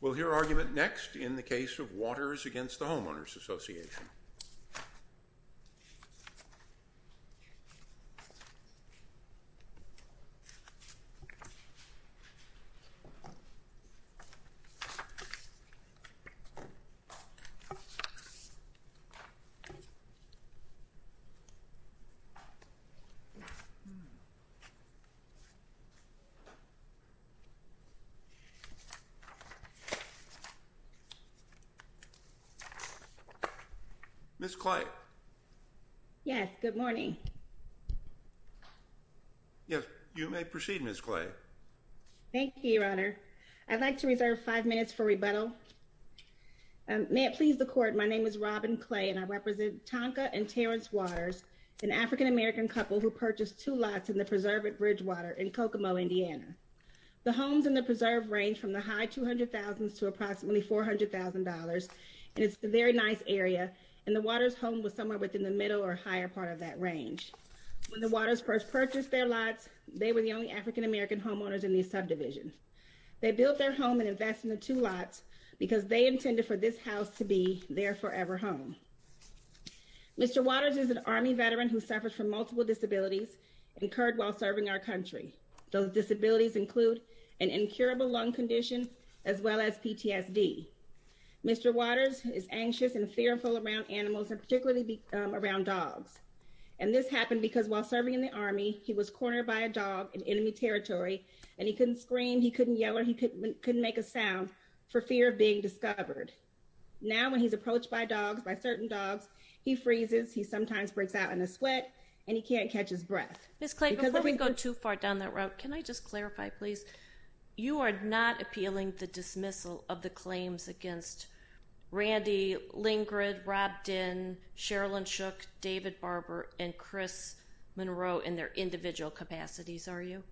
We'll hear argument next in the case of Watters v. Homeowners Association. Ms. Clay? Yes, good morning. Yes, you may proceed, Ms. Clay. Thank you, Your Honor. I'd like to reserve five minutes for rebuttal. May it please the court, my name is Robin Clay, and I represent Tonka and Terrence Waters, an African-American couple who purchased two lots in the Preserve at Bridgewater in Kokomo, Indiana. The homes in the Preserve range from the high $200,000 to approximately $400,000, and it's a very nice area, and the Waters' home was somewhere within the middle or higher part of that range. When the Waters first purchased their lots, they were the only African-American homeowners in the subdivision. They built their home and invested in the two lots because they intended for this house to be their forever home. Mr. Waters is an Army veteran who suffers from multiple disabilities incurred while serving our country. Those disabilities include an incurable lung condition, as well as PTSD. Mr. Waters is anxious and fearful around animals, and particularly around dogs. And this happened because while serving in the Army, he was cornered by a dog in enemy territory, and he couldn't scream, he couldn't yell, or he couldn't make a sound for fear of being discovered. Now when he's approached by dogs, by certain dogs, he freezes, he sometimes breaks out in a sweat, and he can't catch his breath. Ms. Clayton, before we go too far down that route, can I just clarify, please? You are not appealing the dismissal of the claims against Randy Lingard, Rob Dinn, Sherilyn Shook, David Barber, and Chris Monroe in their individual capacities, are you?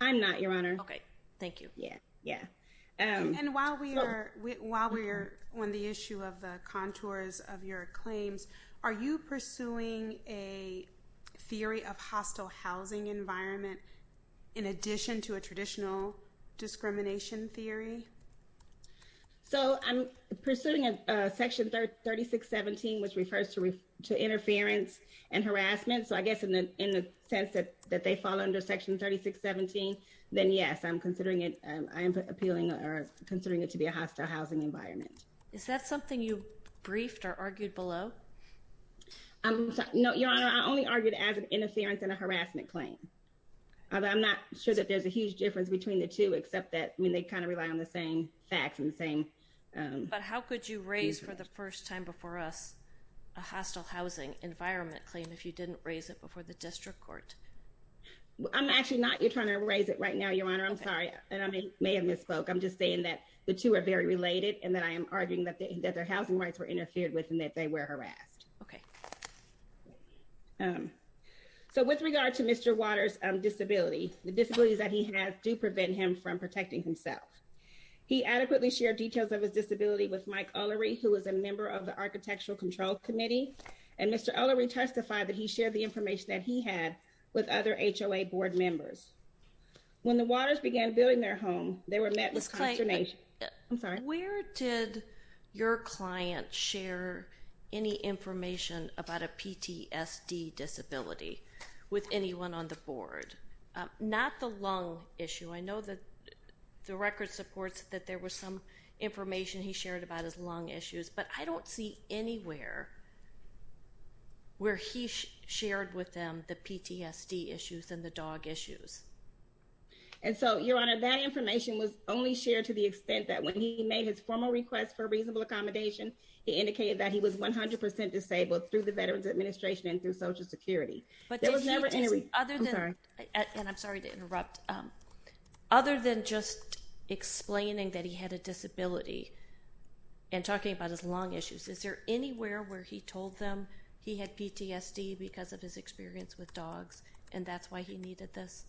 I'm not, Your Honor. Okay, thank you. Yeah, yeah. And while we are on the issue of the contours of your claims, are you pursuing a theory of hostile housing environment in addition to a traditional discrimination theory? So I'm pursuing Section 3617, which refers to interference and harassment. So I guess in the sense that they fall under Section 3617, then yes, I am considering it to be a hostile housing environment. Is that something you briefed or argued below? No, Your Honor, I only argued it as an interference and a harassment claim. I'm not sure that there's a huge difference between the two, except that they kind of rely on the same facts and the same... But how could you raise for the first time before us a hostile housing environment claim if you didn't raise it before the district court? I'm actually not trying to raise it right now, Your Honor. I'm sorry, and I may have misspoke. I'm just saying that the two are very related and that I am arguing that their housing rights were interfered with and that they were harassed. Okay. So with regard to Mr. Waters' disability, the disabilities that he has do prevent him from protecting himself. He adequately shared details of his disability with Mike Ullery, who is a member of the Architectural Control Committee, and Mr. Ullery testified that he shared the information that he had with other HOA board members. When the Waters began building their home, they were met with consternation. Ms. Clayton, where did your client share any information about a PTSD disability with anyone on the board? Not the lung issue. I know that the record supports that there was some information he shared about his lung issues, but I don't see anywhere where he shared with them the PTSD issues and the dog issues. And so, Your Honor, that information was only shared to the extent that when he made his formal request for reasonable accommodation, he indicated that he was 100% disabled through the Veterans Administration and through Social Security. I'm sorry to interrupt. Other than just explaining that he had a disability and talking about his lung issues, is there anywhere where he told them he had PTSD because of his experience with dogs and that's why he needed this?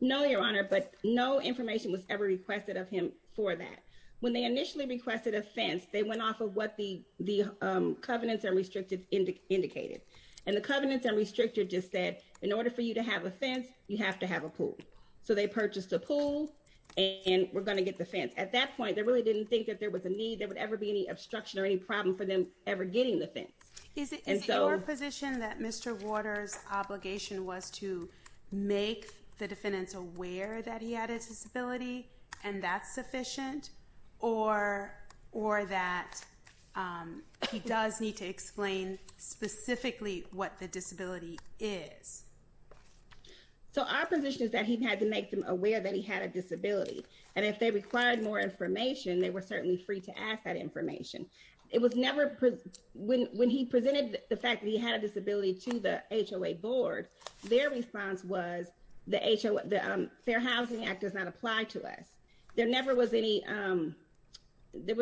No, Your Honor, but no information was ever requested of him for that. When they initially requested a fence, they went off of what the covenants and restrictions indicated. And the covenants and restrictions just said, in order for you to have a fence, you have to have a pool. So they purchased a pool, and we're going to get the fence. At that point, they really didn't think that there was a need, there would ever be any obstruction or any problem for them ever getting the fence. Is it your position that Mr. Waters' obligation was to make the defendants aware that he had a disability and that's sufficient, or that he does need to explain specifically what the disability is? So our position is that he had to make them aware that he had a disability. And if they required more information, they were certainly free to ask that information. When he presented the fact that he had a disability to the HOA board, their response was, the Fair Housing Act does not apply to us. There was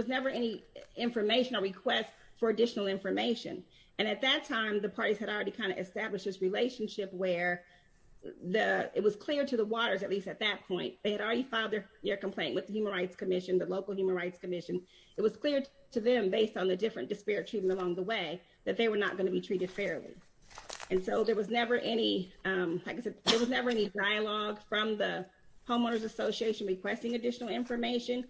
never any information or request for additional information. And at that time, the parties had already kind of established this relationship where it was clear to the Waters, at least at that point, they had already filed their complaint with the Human Rights Commission, the local Human Rights Commission. It was clear to them, based on the different disparate treatment along the way, that they were not going to be treated fairly. And so there was never any, like I said, there was never any dialogue from the homeowners association requesting additional information.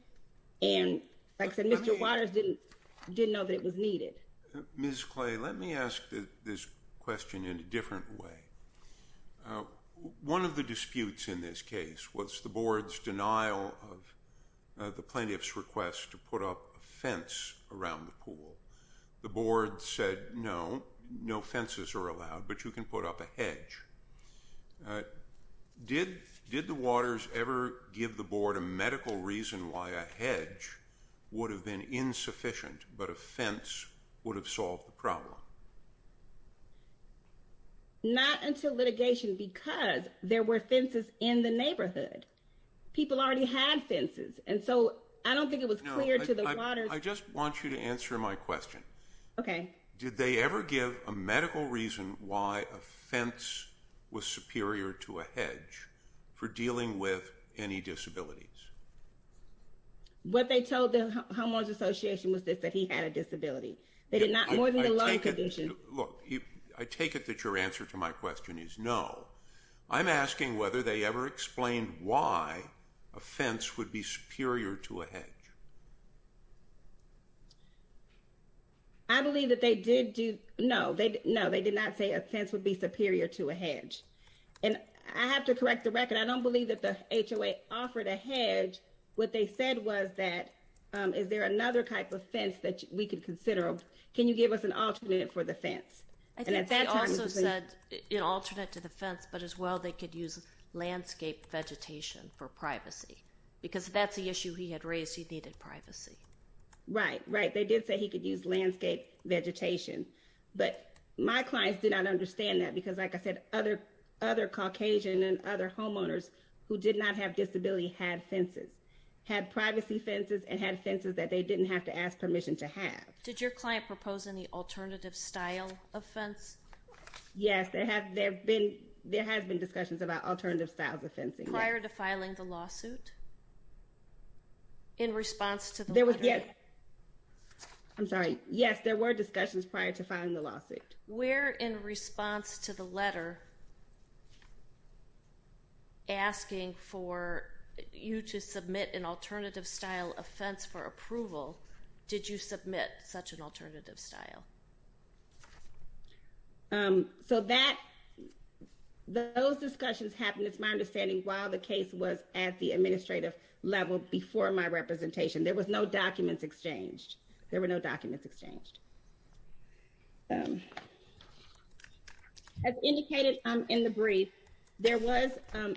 And like I said, Mr. Waters didn't know that it was needed. Ms. Clay, let me ask this question in a different way. One of the disputes in this case was the board's denial of the plaintiff's request to put up a fence around the pool. The board said, no, no fences are allowed, but you can put up a hedge. Did the Waters ever give the board a medical reason why a hedge would have been insufficient, but a fence would have solved the problem? Not until litigation, because there were fences in the neighborhood. People already had fences. And so I don't think it was clear to the Waters. I just want you to answer my question. Okay. Did they ever give a medical reason why a fence was superior to a hedge for dealing with any disabilities? What they told the homeowners association was that he had a disability. They did not, more than the loving condition. Look, I take it that your answer to my question is no. I'm asking whether they ever explained why a fence would be superior to a hedge. I believe that they did do, no, they did not say a fence would be superior to a hedge. And I have to correct the record. I don't believe that the HOA offered a hedge. What they said was that, is there another type of fence that we could consider? Can you give us an alternate for the fence? I think they also said an alternate to the fence, but as well they could use landscape vegetation for privacy. Because if that's the issue he had raised, he needed privacy. Right, right. They did say he could use landscape vegetation. But my clients did not understand that, because like I said, other Caucasian and other homeowners who did not have disability had fences. Had privacy fences and had fences that they didn't have to ask permission to have. Did your client propose any alternative style of fence? Yes, there have been discussions about alternative styles of fencing. Prior to filing the lawsuit? In response to the letter? There was, yes. I'm sorry. Yes, there were discussions prior to filing the lawsuit. Where in response to the letter asking for you to submit an alternative style of fence for approval, did you submit such an alternative style? So that, those discussions happened, it's my understanding, while the case was at the administrative level before my representation. There was no documents exchanged. There were no documents exchanged. As indicated in the brief, there was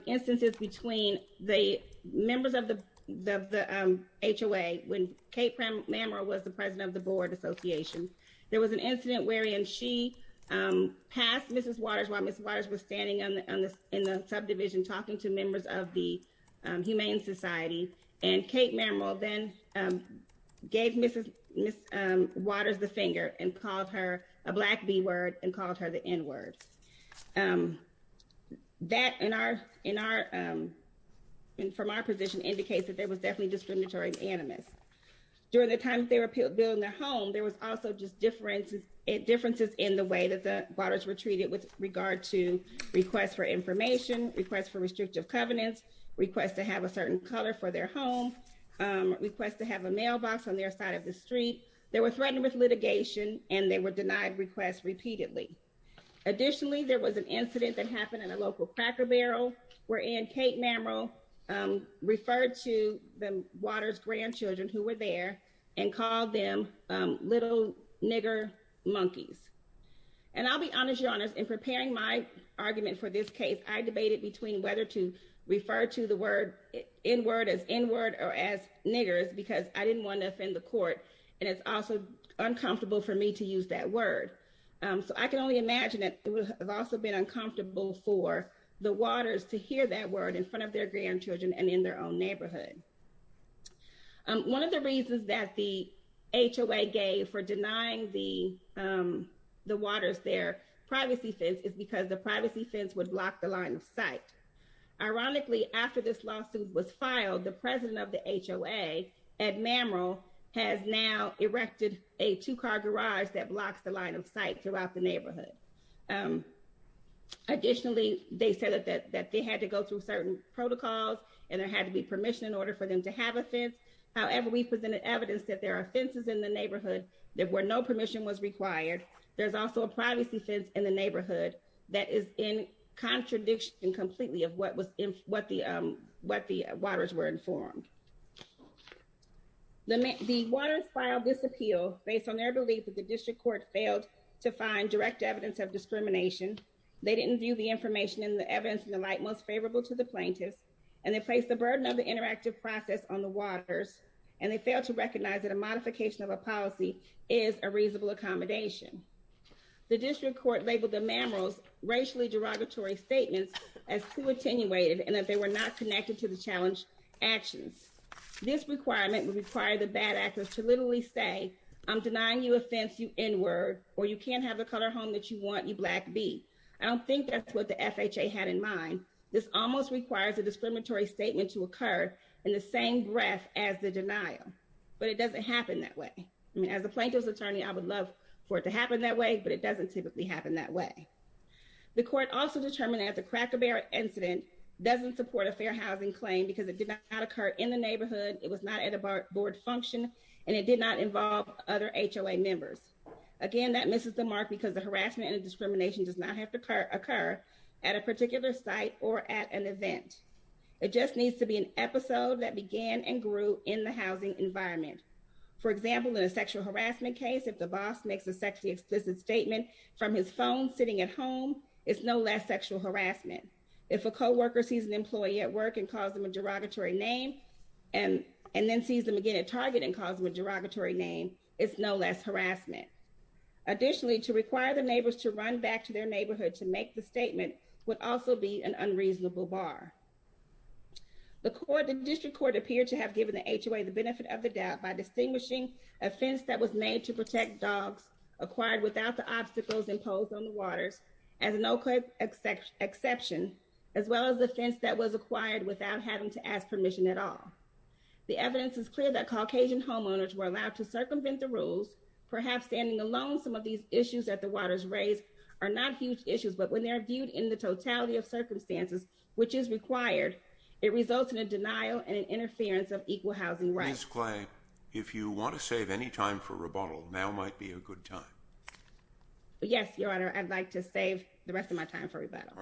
instances between the members of the HOA, when Kate Mamerill was the president of the Board Association. There was an incident wherein she passed Mrs. Waters while Mrs. Waters was standing in the subdivision talking to members of the Humane Society. And Kate Mamerill then gave Mrs. Waters the finger and called her a black B word and called her the N word. That, from our position, indicates that there was definitely discriminatory animus. During the time they were building their home, there was also just differences in the way that the Waters were treated with regard to requests for information, requests for restrictive covenants, requests to have a certain color for their home, requests to have a mailbox on their side of the street. They were threatened with litigation and they were denied requests repeatedly. Additionally, there was an incident that happened in a local Cracker Barrel wherein Kate Mamerill referred to the Waters' grandchildren who were there and called them little nigger monkeys. And I'll be honest, Your Honor, in preparing my argument for this case, I debated between whether to refer to the N word as N word or as niggers because I didn't want to offend the court and it's also uncomfortable for me to use that word. So I can only imagine that it would have also been uncomfortable for the Waters to hear that word in front of their grandchildren and in their own neighborhood. One of the reasons that the HOA gave for denying the Waters their privacy fence is because the privacy fence would block the line of sight. Ironically, after this lawsuit was filed, the president of the HOA, Ed Mamerill, has now erected a two-car garage that blocks the line of sight throughout the neighborhood. Additionally, they said that they had to go through certain protocols and there had to be permission in order for them to have a fence. However, we presented evidence that there are fences in the neighborhood where no permission was required. There's also a privacy fence in the neighborhood that is in contradiction completely of what the Waters were informed. The Waters filed this appeal based on their belief that the district court failed to find direct evidence of discrimination. They didn't view the information and the evidence in the light most favorable to the plaintiffs. And they placed the burden of the interactive process on the Waters. And they failed to recognize that a modification of a policy is a reasonable accommodation. The district court labeled the Mamerill's racially derogatory statements as too attenuated and that they were not connected to the challenge actions. This requirement would require the bad actors to literally say, I'm denying you a fence, you N-word, or you can't have the color home that you want, you black B. I don't think that's what the FHA had in mind. This almost requires a discriminatory statement to occur in the same breath as the denial, but it doesn't happen that way. I mean, as a plaintiff's attorney, I would love for it to happen that way, but it doesn't typically happen that way. The court also determined that the Cracker Barrel incident doesn't support a fair housing claim because it did not occur in the neighborhood. It was not at a board function, and it did not involve other HOA members. Again, that misses the mark because the harassment and discrimination does not have to occur at a particular site or at an event. It just needs to be an episode that began and grew in the housing environment. For example, in a sexual harassment case, if the boss makes a sexually explicit statement from his phone sitting at home, it's no less sexual harassment. If a co-worker sees an employee at work and calls them a derogatory name and then sees them again at Target and calls them a derogatory name, it's no less harassment. Additionally, to require the neighbors to run back to their neighborhood to make the statement would also be an unreasonable bar. The district court appeared to have given the HOA the benefit of the doubt by distinguishing a fence that was made to protect dogs acquired without the obstacles imposed on the waters, as no quick exception, as well as the fence that was acquired without having to ask permission at all. The evidence is clear that Caucasian homeowners were allowed to circumvent the rules. Perhaps standing alone, some of these issues that the waters raise are not huge issues, but when they are viewed in the totality of circumstances, which is required, it results in a denial and interference of equal housing rights. Clay, if you want to save any time for rebuttal, now might be a good time. Yes, Your Honor. I'd like to save the rest of my time for rebuttal.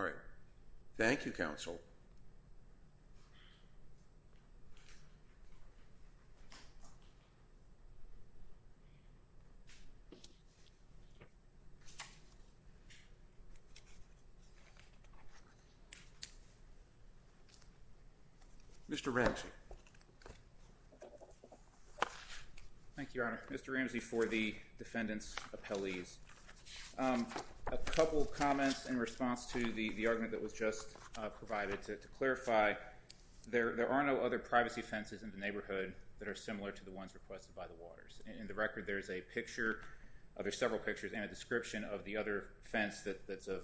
Mr. Ramsey. Thank you, Your Honor. Mr. Ramsey for the defendant's appellees. A couple of comments in response to the argument that was just provided to clarify, there are no other privacy fences in the neighborhood that are similar to the ones requested by the waters. In the record, there's a picture, there's several pictures and a description of the other fence that's a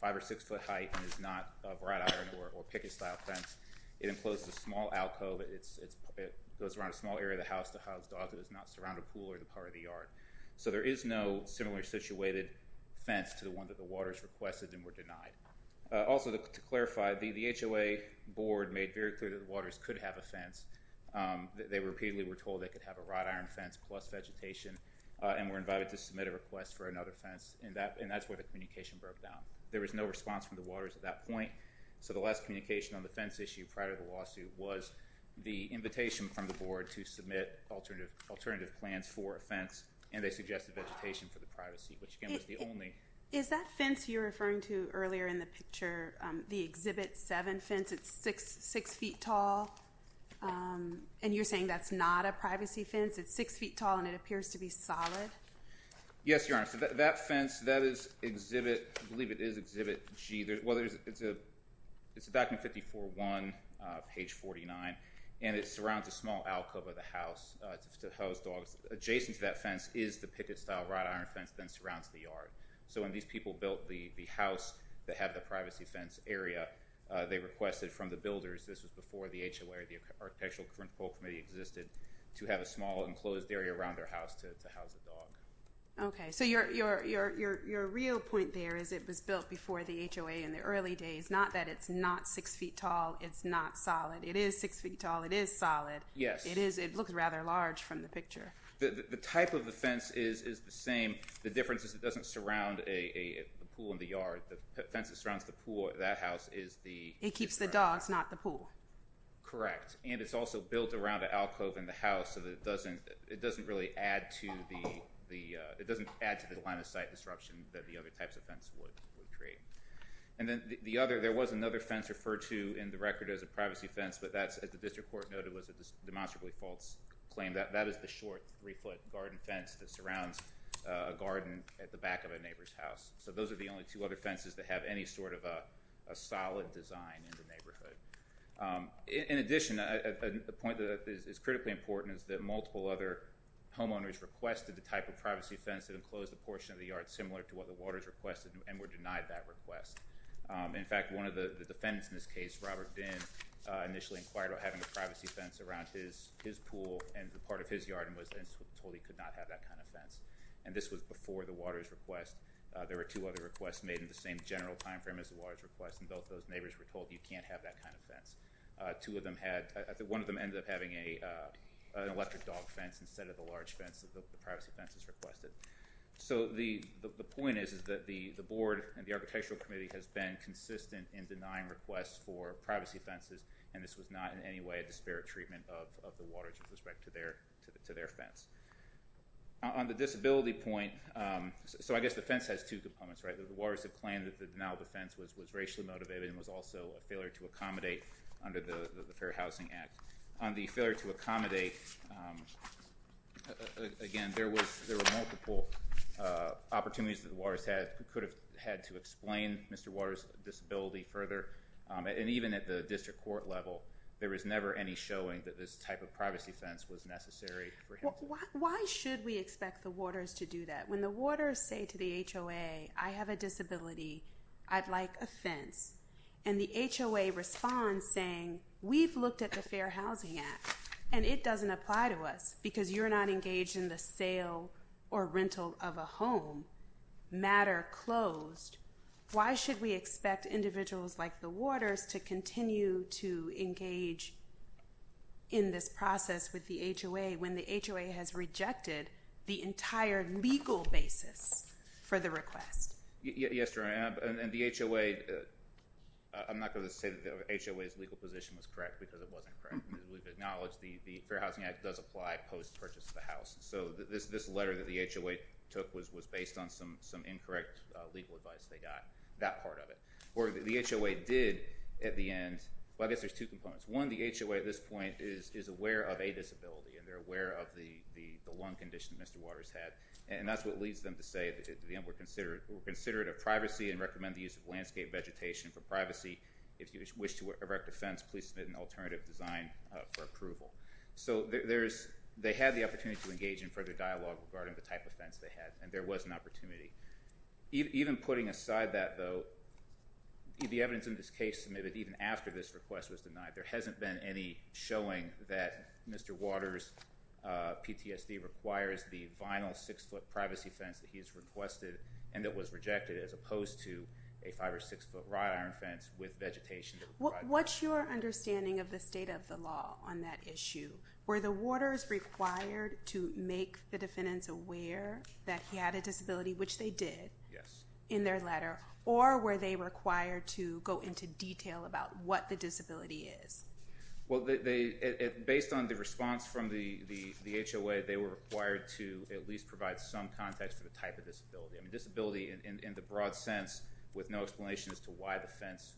five or six foot height and is not a wrought iron or picket style fence. It encloses a small alcove, it goes around a small area of the house to house dogs that is not surrounded by a pool or the part of the yard. So there is no similar situated fence to the one that the waters requested and were denied. Also, to clarify, the HOA board made very clear that the waters could have a fence. They repeatedly were told they could have a wrought iron fence plus vegetation and were invited to submit a request for another fence. And that's where the communication broke down. There was no response from the waters at that point. So the last communication on the fence issue prior to the lawsuit was the invitation from the board to submit alternative plans for a fence. And they suggested vegetation for the privacy, which again was the only... Is that fence you're referring to earlier in the picture, the Exhibit 7 fence, it's six feet tall? And you're saying that's not a privacy fence? It's six feet tall and it appears to be solid? Yes, Your Honor. So that fence, that is Exhibit, I believe it is Exhibit G. It's a document 54-1, page 49, and it surrounds a small alcove of the house to house dogs. Adjacent to that fence is the picket-style wrought iron fence that surrounds the yard. So when these people built the house that had the privacy fence area, they requested from the builders, this was before the HOA or the Architectural Control Committee existed, to have a small enclosed area around their house to house a dog. Okay, so your real point there is it was built before the HOA in the early days. Not that it's not six feet tall, it's not solid. It is six feet tall, it is solid. Yes. It looks rather large from the picture. The type of the fence is the same. The difference is it doesn't surround a pool in the yard. The fence that surrounds the pool of that house is the... It keeps the dogs, not the pool. Correct. And it's also built around the alcove in the house so that it doesn't really add to the... It doesn't add to the line-of-sight disruption that the other types of fence would create. And then the other, there was another fence referred to in the record as a privacy fence, but that's, as the District Court noted, was a demonstrably false claim. That is the short three-foot garden fence that surrounds a garden at the back of a neighbor's house. So those are the only two other fences that have any sort of a solid design in the neighborhood. In addition, a point that is critically important is that multiple other homeowners requested the type of privacy fence that enclosed a portion of the yard similar to what the Waters requested and were denied that request. In fact, one of the defendants in this case, Robert Dinn, initially inquired about having a privacy fence around his pool and part of his yard and was then told he could not have that kind of fence. And this was before the Waters request. There were two other requests made in the same general time frame as the Waters request, and both those neighbors were told you can't have that kind of fence. Two of them had, one of them ended up having an electric dog fence instead of the large fence that the privacy fence has requested. So the point is that the Board and the Architectural Committee has been consistent in denying requests for privacy fences, and this was not in any way a disparate treatment of the Waters with respect to their fence. On the disability point, so I guess the fence has two components, right? The Waters have claimed that the denial of the fence was racially motivated and was also a failure to accommodate under the Fair Housing Act. On the failure to accommodate, again, there were multiple opportunities that the Waters could have had to explain Mr. Waters' disability further. And even at the district court level, there was never any showing that this type of privacy fence was necessary for him. Why should we expect the Waters to do that? When the Waters say to the HOA, I have a disability, I'd like a fence, and the HOA responds saying, we've looked at the Fair Housing Act, and it doesn't apply to us because you're not engaged in the sale or rental of a home, to engage in this process with the HOA when the HOA has rejected the entire legal basis for the request? Yes, Your Honor, and the HOA, I'm not going to say that the HOA's legal position was correct because it wasn't correct. We've acknowledged the Fair Housing Act does apply post-purchase to the house. So this letter that the HOA took was based on some incorrect legal advice they got, that part of it. Or the HOA did, at the end, well, I guess there's two components. One, the HOA at this point is aware of a disability, and they're aware of the lung condition Mr. Waters had, and that's what leads them to say that we're considerate of privacy and recommend the use of landscape vegetation for privacy. If you wish to erect a fence, please submit an alternative design for approval. So they had the opportunity to engage in further dialogue regarding the type of fence they had, and there was an opportunity. Even putting aside that, though, the evidence in this case submitted even after this request was denied, there hasn't been any showing that Mr. Waters' PTSD requires the vinyl 6-foot privacy fence that he has requested and that was rejected as opposed to a 5- or 6-foot wrought iron fence with vegetation. What's your understanding of the state of the law on that issue? Were the Waters required to make the defendants aware that he had a disability, which they did in their letter, or were they required to go into detail about what the disability is? Well, based on the response from the HOA, they were required to at least provide some context for the type of disability. I mean disability in the broad sense with no explanation as to why the fence,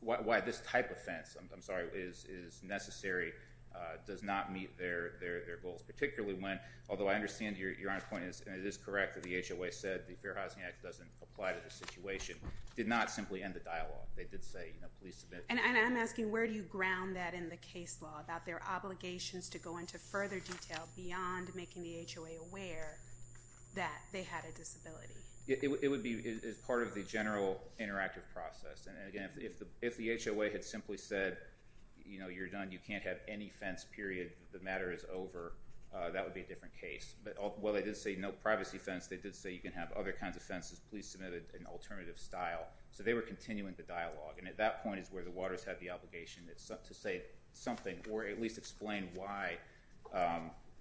why this type of fence, I'm sorry, is necessary, does not meet their goals, particularly when, although I understand Your Honor's point, and it is correct that the HOA said the Fair Housing Act doesn't apply to this situation, did not simply end the dialogue. They did say, you know, please submit. And I'm asking where do you ground that in the case law, about their obligations to go into further detail beyond making the HOA aware that they had a disability? It would be as part of the general interactive process. And, again, if the HOA had simply said, you know, you're done, you can't have any fence, period, the matter is over, that would be a different case. But while they did say no privacy fence, they did say you can have other kinds of fences, please submit an alternative style. So they were continuing the dialogue. And at that point is where the warders had the obligation to say something or at least explain why,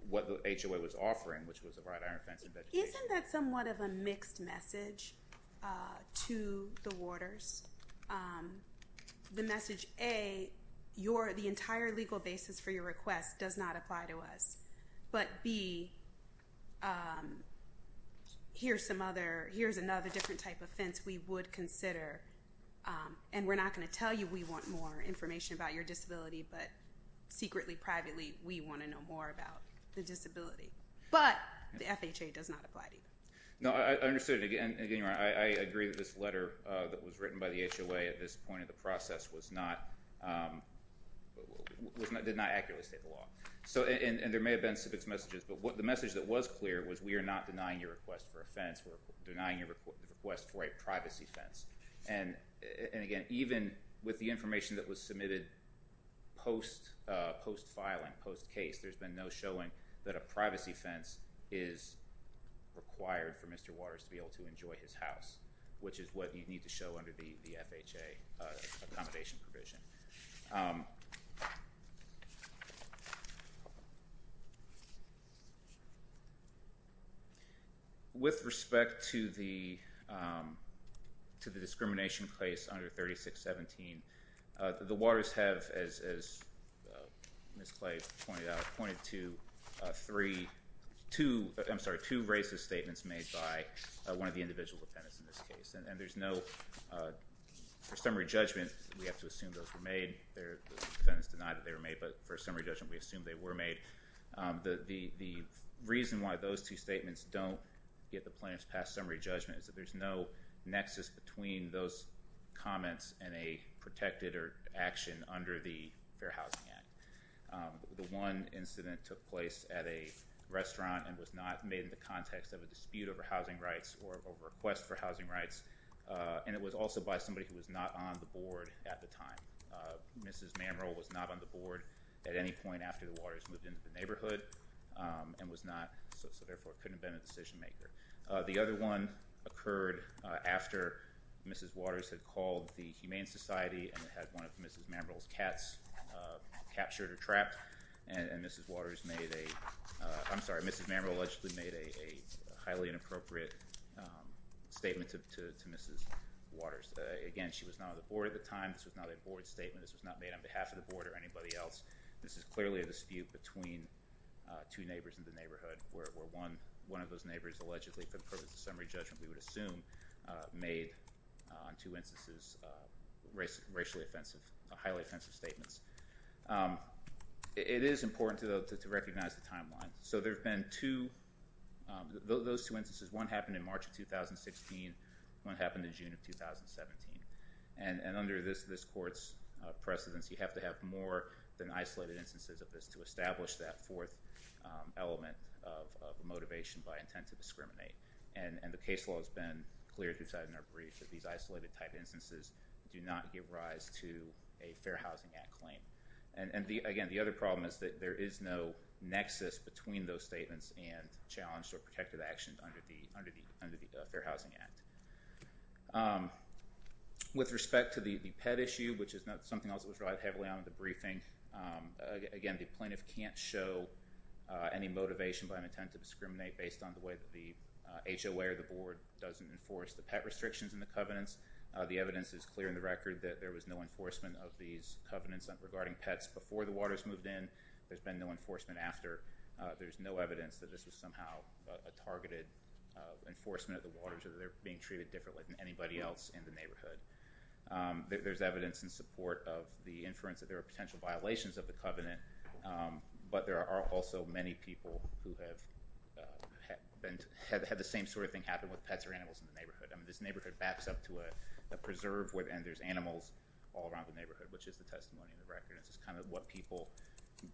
what the HOA was offering, which was a wrought iron fence and vegetation. Isn't that somewhat of a mixed message to the warders? The message, A, the entire legal basis for your request does not apply to us, but, B, here's another different type of fence we would consider. And we're not going to tell you we want more information about your disability, but secretly, privately, we want to know more about the disability. But the FHA does not apply to you. No, I understood. And, again, I agree that this letter that was written by the HOA at this point in the process did not accurately state the law. And there may have been some mixed messages, but the message that was clear was we are not denying your request for a fence. We're denying your request for a privacy fence. And, again, even with the information that was submitted post-filing, post-case, there's been no showing that a privacy fence is required for Mr. Waters to be able to enjoy his house, which is what you need to show under the FHA accommodation provision. With respect to the discrimination case under 3617, the warders have, as Ms. Clay pointed out, pointed to two racist statements made by one of the individual defendants in this case. And there's no summary judgment. We have to assume those were made. The defendants denied that they were made, but for a summary judgment we assume they were made. The reason why those two statements don't get the plaintiff's past summary judgment is that there's no nexus between those comments and a protected action under the Fair Housing Act. The one incident took place at a restaurant and was not made in the context of a dispute over housing rights or a request for housing rights. And it was also by somebody who was not on the board at the time. Mrs. Mamrell was not on the board at any point after the warders moved into the neighborhood and was not, so therefore couldn't have been a decision maker. The other one occurred after Mrs. Waters had called the Humane Society and Mrs. Waters made a, I'm sorry, Mrs. Mamrell allegedly made a highly inappropriate statement to Mrs. Waters. Again, she was not on the board at the time. This was not a board statement. This was not made on behalf of the board or anybody else. This is clearly a dispute between two neighbors in the neighborhood where one of those neighbors allegedly, for the purpose of summary judgment we would assume, made on two instances racially offensive, highly offensive statements. It is important, though, to recognize the timeline. So there have been two, those two instances. One happened in March of 2016. One happened in June of 2017. And under this court's precedence, you have to have more than isolated instances of this to establish that fourth element of motivation by intent to discriminate. And the case law has been clearly decided in our brief that these isolated type instances do not give rise to a Fair Housing Act claim. And, again, the other problem is that there is no nexus between those statements and challenged or protected actions under the Fair Housing Act. With respect to the pet issue, which is something else that was relied heavily on in the briefing, again, the plaintiff can't show any motivation by an intent to discriminate based on the way that the HOA or the board doesn't enforce the pet restrictions in the covenants. The evidence is clear in the record that there was no enforcement of these covenants regarding pets before the waters moved in. There's been no enforcement after. There's no evidence that this was somehow a targeted enforcement of the waters or they're being treated differently than anybody else in the neighborhood. There's evidence in support of the inference that there are potential violations of the covenant, but there are also many people who have had the same sort of thing happen with pets or animals in the neighborhood. I mean, this neighborhood backs up to a preserve and there's animals all around the neighborhood, which is the testimony in the record. This is kind of what people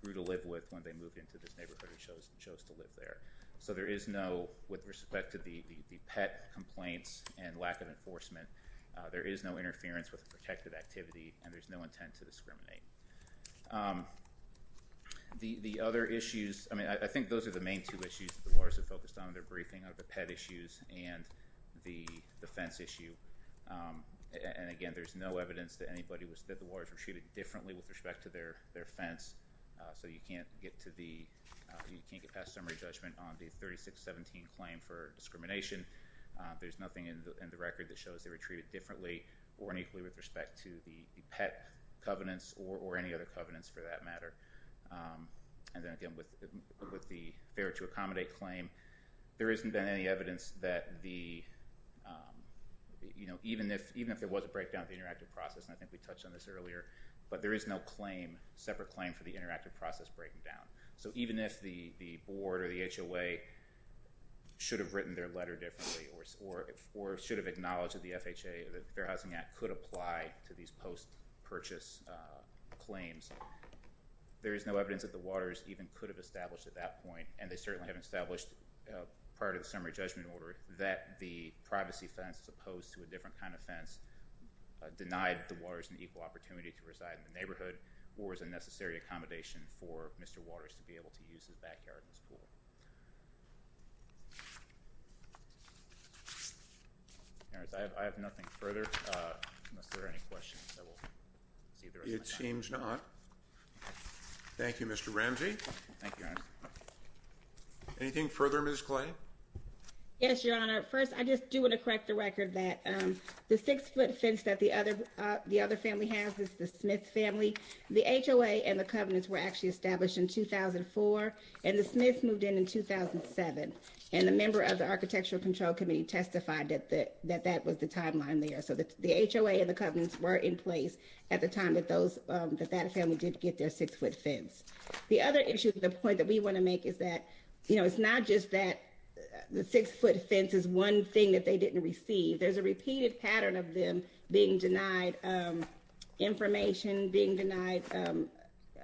grew to live with when they moved into this neighborhood and chose to live there. So there is no, with respect to the pet complaints and lack of enforcement, there is no interference with a protected activity and there's no intent to discriminate. The other issues, I mean, I think those are the main two issues that the lawyers have focused on in their briefing, the pet issues and the defense issue. And again, there's no evidence that anybody was, that the lawyers were treated differently with respect to their offense. So you can't get to the, you can't get past summary judgment on the 3617 claim for discrimination. There's nothing in the record that shows they were treated differently or unequally with respect to the pet covenants or any other covenants for that matter. And then again, with the fair to accommodate claim, there isn't been any evidence that the, you know, even if there was a breakdown of the interactive process, and I think we touched on this earlier, but there is no claim, separate claim for the interactive process breaking down. So even if the board or the HOA should have written their letter differently or should have acknowledged that the FHA, the Fair Housing Act, could apply to these post-purchase claims, there is no evidence that the Waters even could have established at that point. And they certainly have established prior to the summary judgment order that the privacy fence, as opposed to a different kind of fence, denied the Waters an equal opportunity to reside in the neighborhood or as a necessary accommodation for Mr. Waters to be able to use his backyard as a pool. I have nothing further, unless there are any questions. It seems not. Thank you, Mr. Ramsey. Thank you, Your Honor. Anything further, Ms. Clay? Yes, Your Honor. First, I just do want to correct the record that the six-foot fence that the other family has is the Smith family. The HOA and the covenants were actually established in 2004, and the Smiths moved in in 2007, and the member of the Architectural Control Committee testified that that was the timeline there. So the HOA and the covenants were in place at the time that that family did get their six-foot fence. The other issue, the point that we want to make, is that it's not just that the six-foot fence is one thing that they didn't receive. There's a repeated pattern of them being denied information, being denied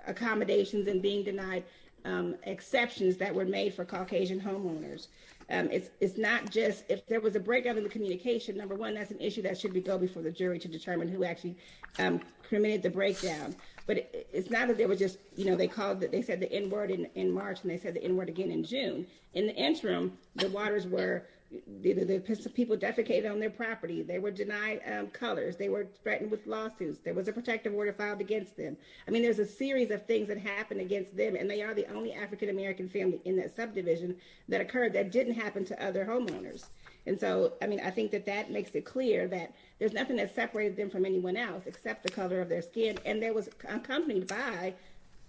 accommodations, and being denied exceptions that were made for Caucasian homeowners. It's not just if there was a breakdown in the communication, number one, that's an issue that should go before the jury to determine who actually committed the breakdown. But it's not that they were just, you know, they called, they said the N-word in March, and they said the N-word again in June. In the interim, the waters were, the people defecated on their property, they were denied colors, they were threatened with lawsuits, there was a protective order filed against them. I mean, there's a series of things that happened against them, and they are the only African-American family in that subdivision that occurred that didn't happen to other homeowners. And so, I mean, I think that that makes it clear that there's nothing that separated them from anyone else except the color of their skin, and they were accompanied by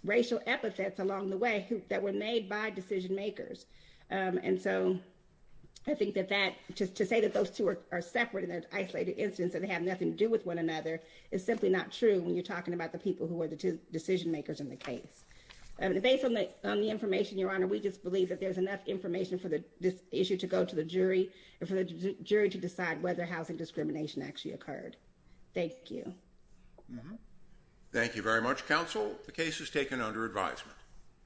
racial epithets along the way that were made by decision-makers. And so, I think that that, to say that those two are separate in an isolated instance and have nothing to do with one another is simply not true when you're talking about the people who were the decision-makers in the case. And based on the information, Your Honor, we just believe that there's enough information for this issue to go to the jury and for the jury to decide whether housing discrimination actually occurred. Thank you. Thank you very much, Counsel. The case is taken under advisement.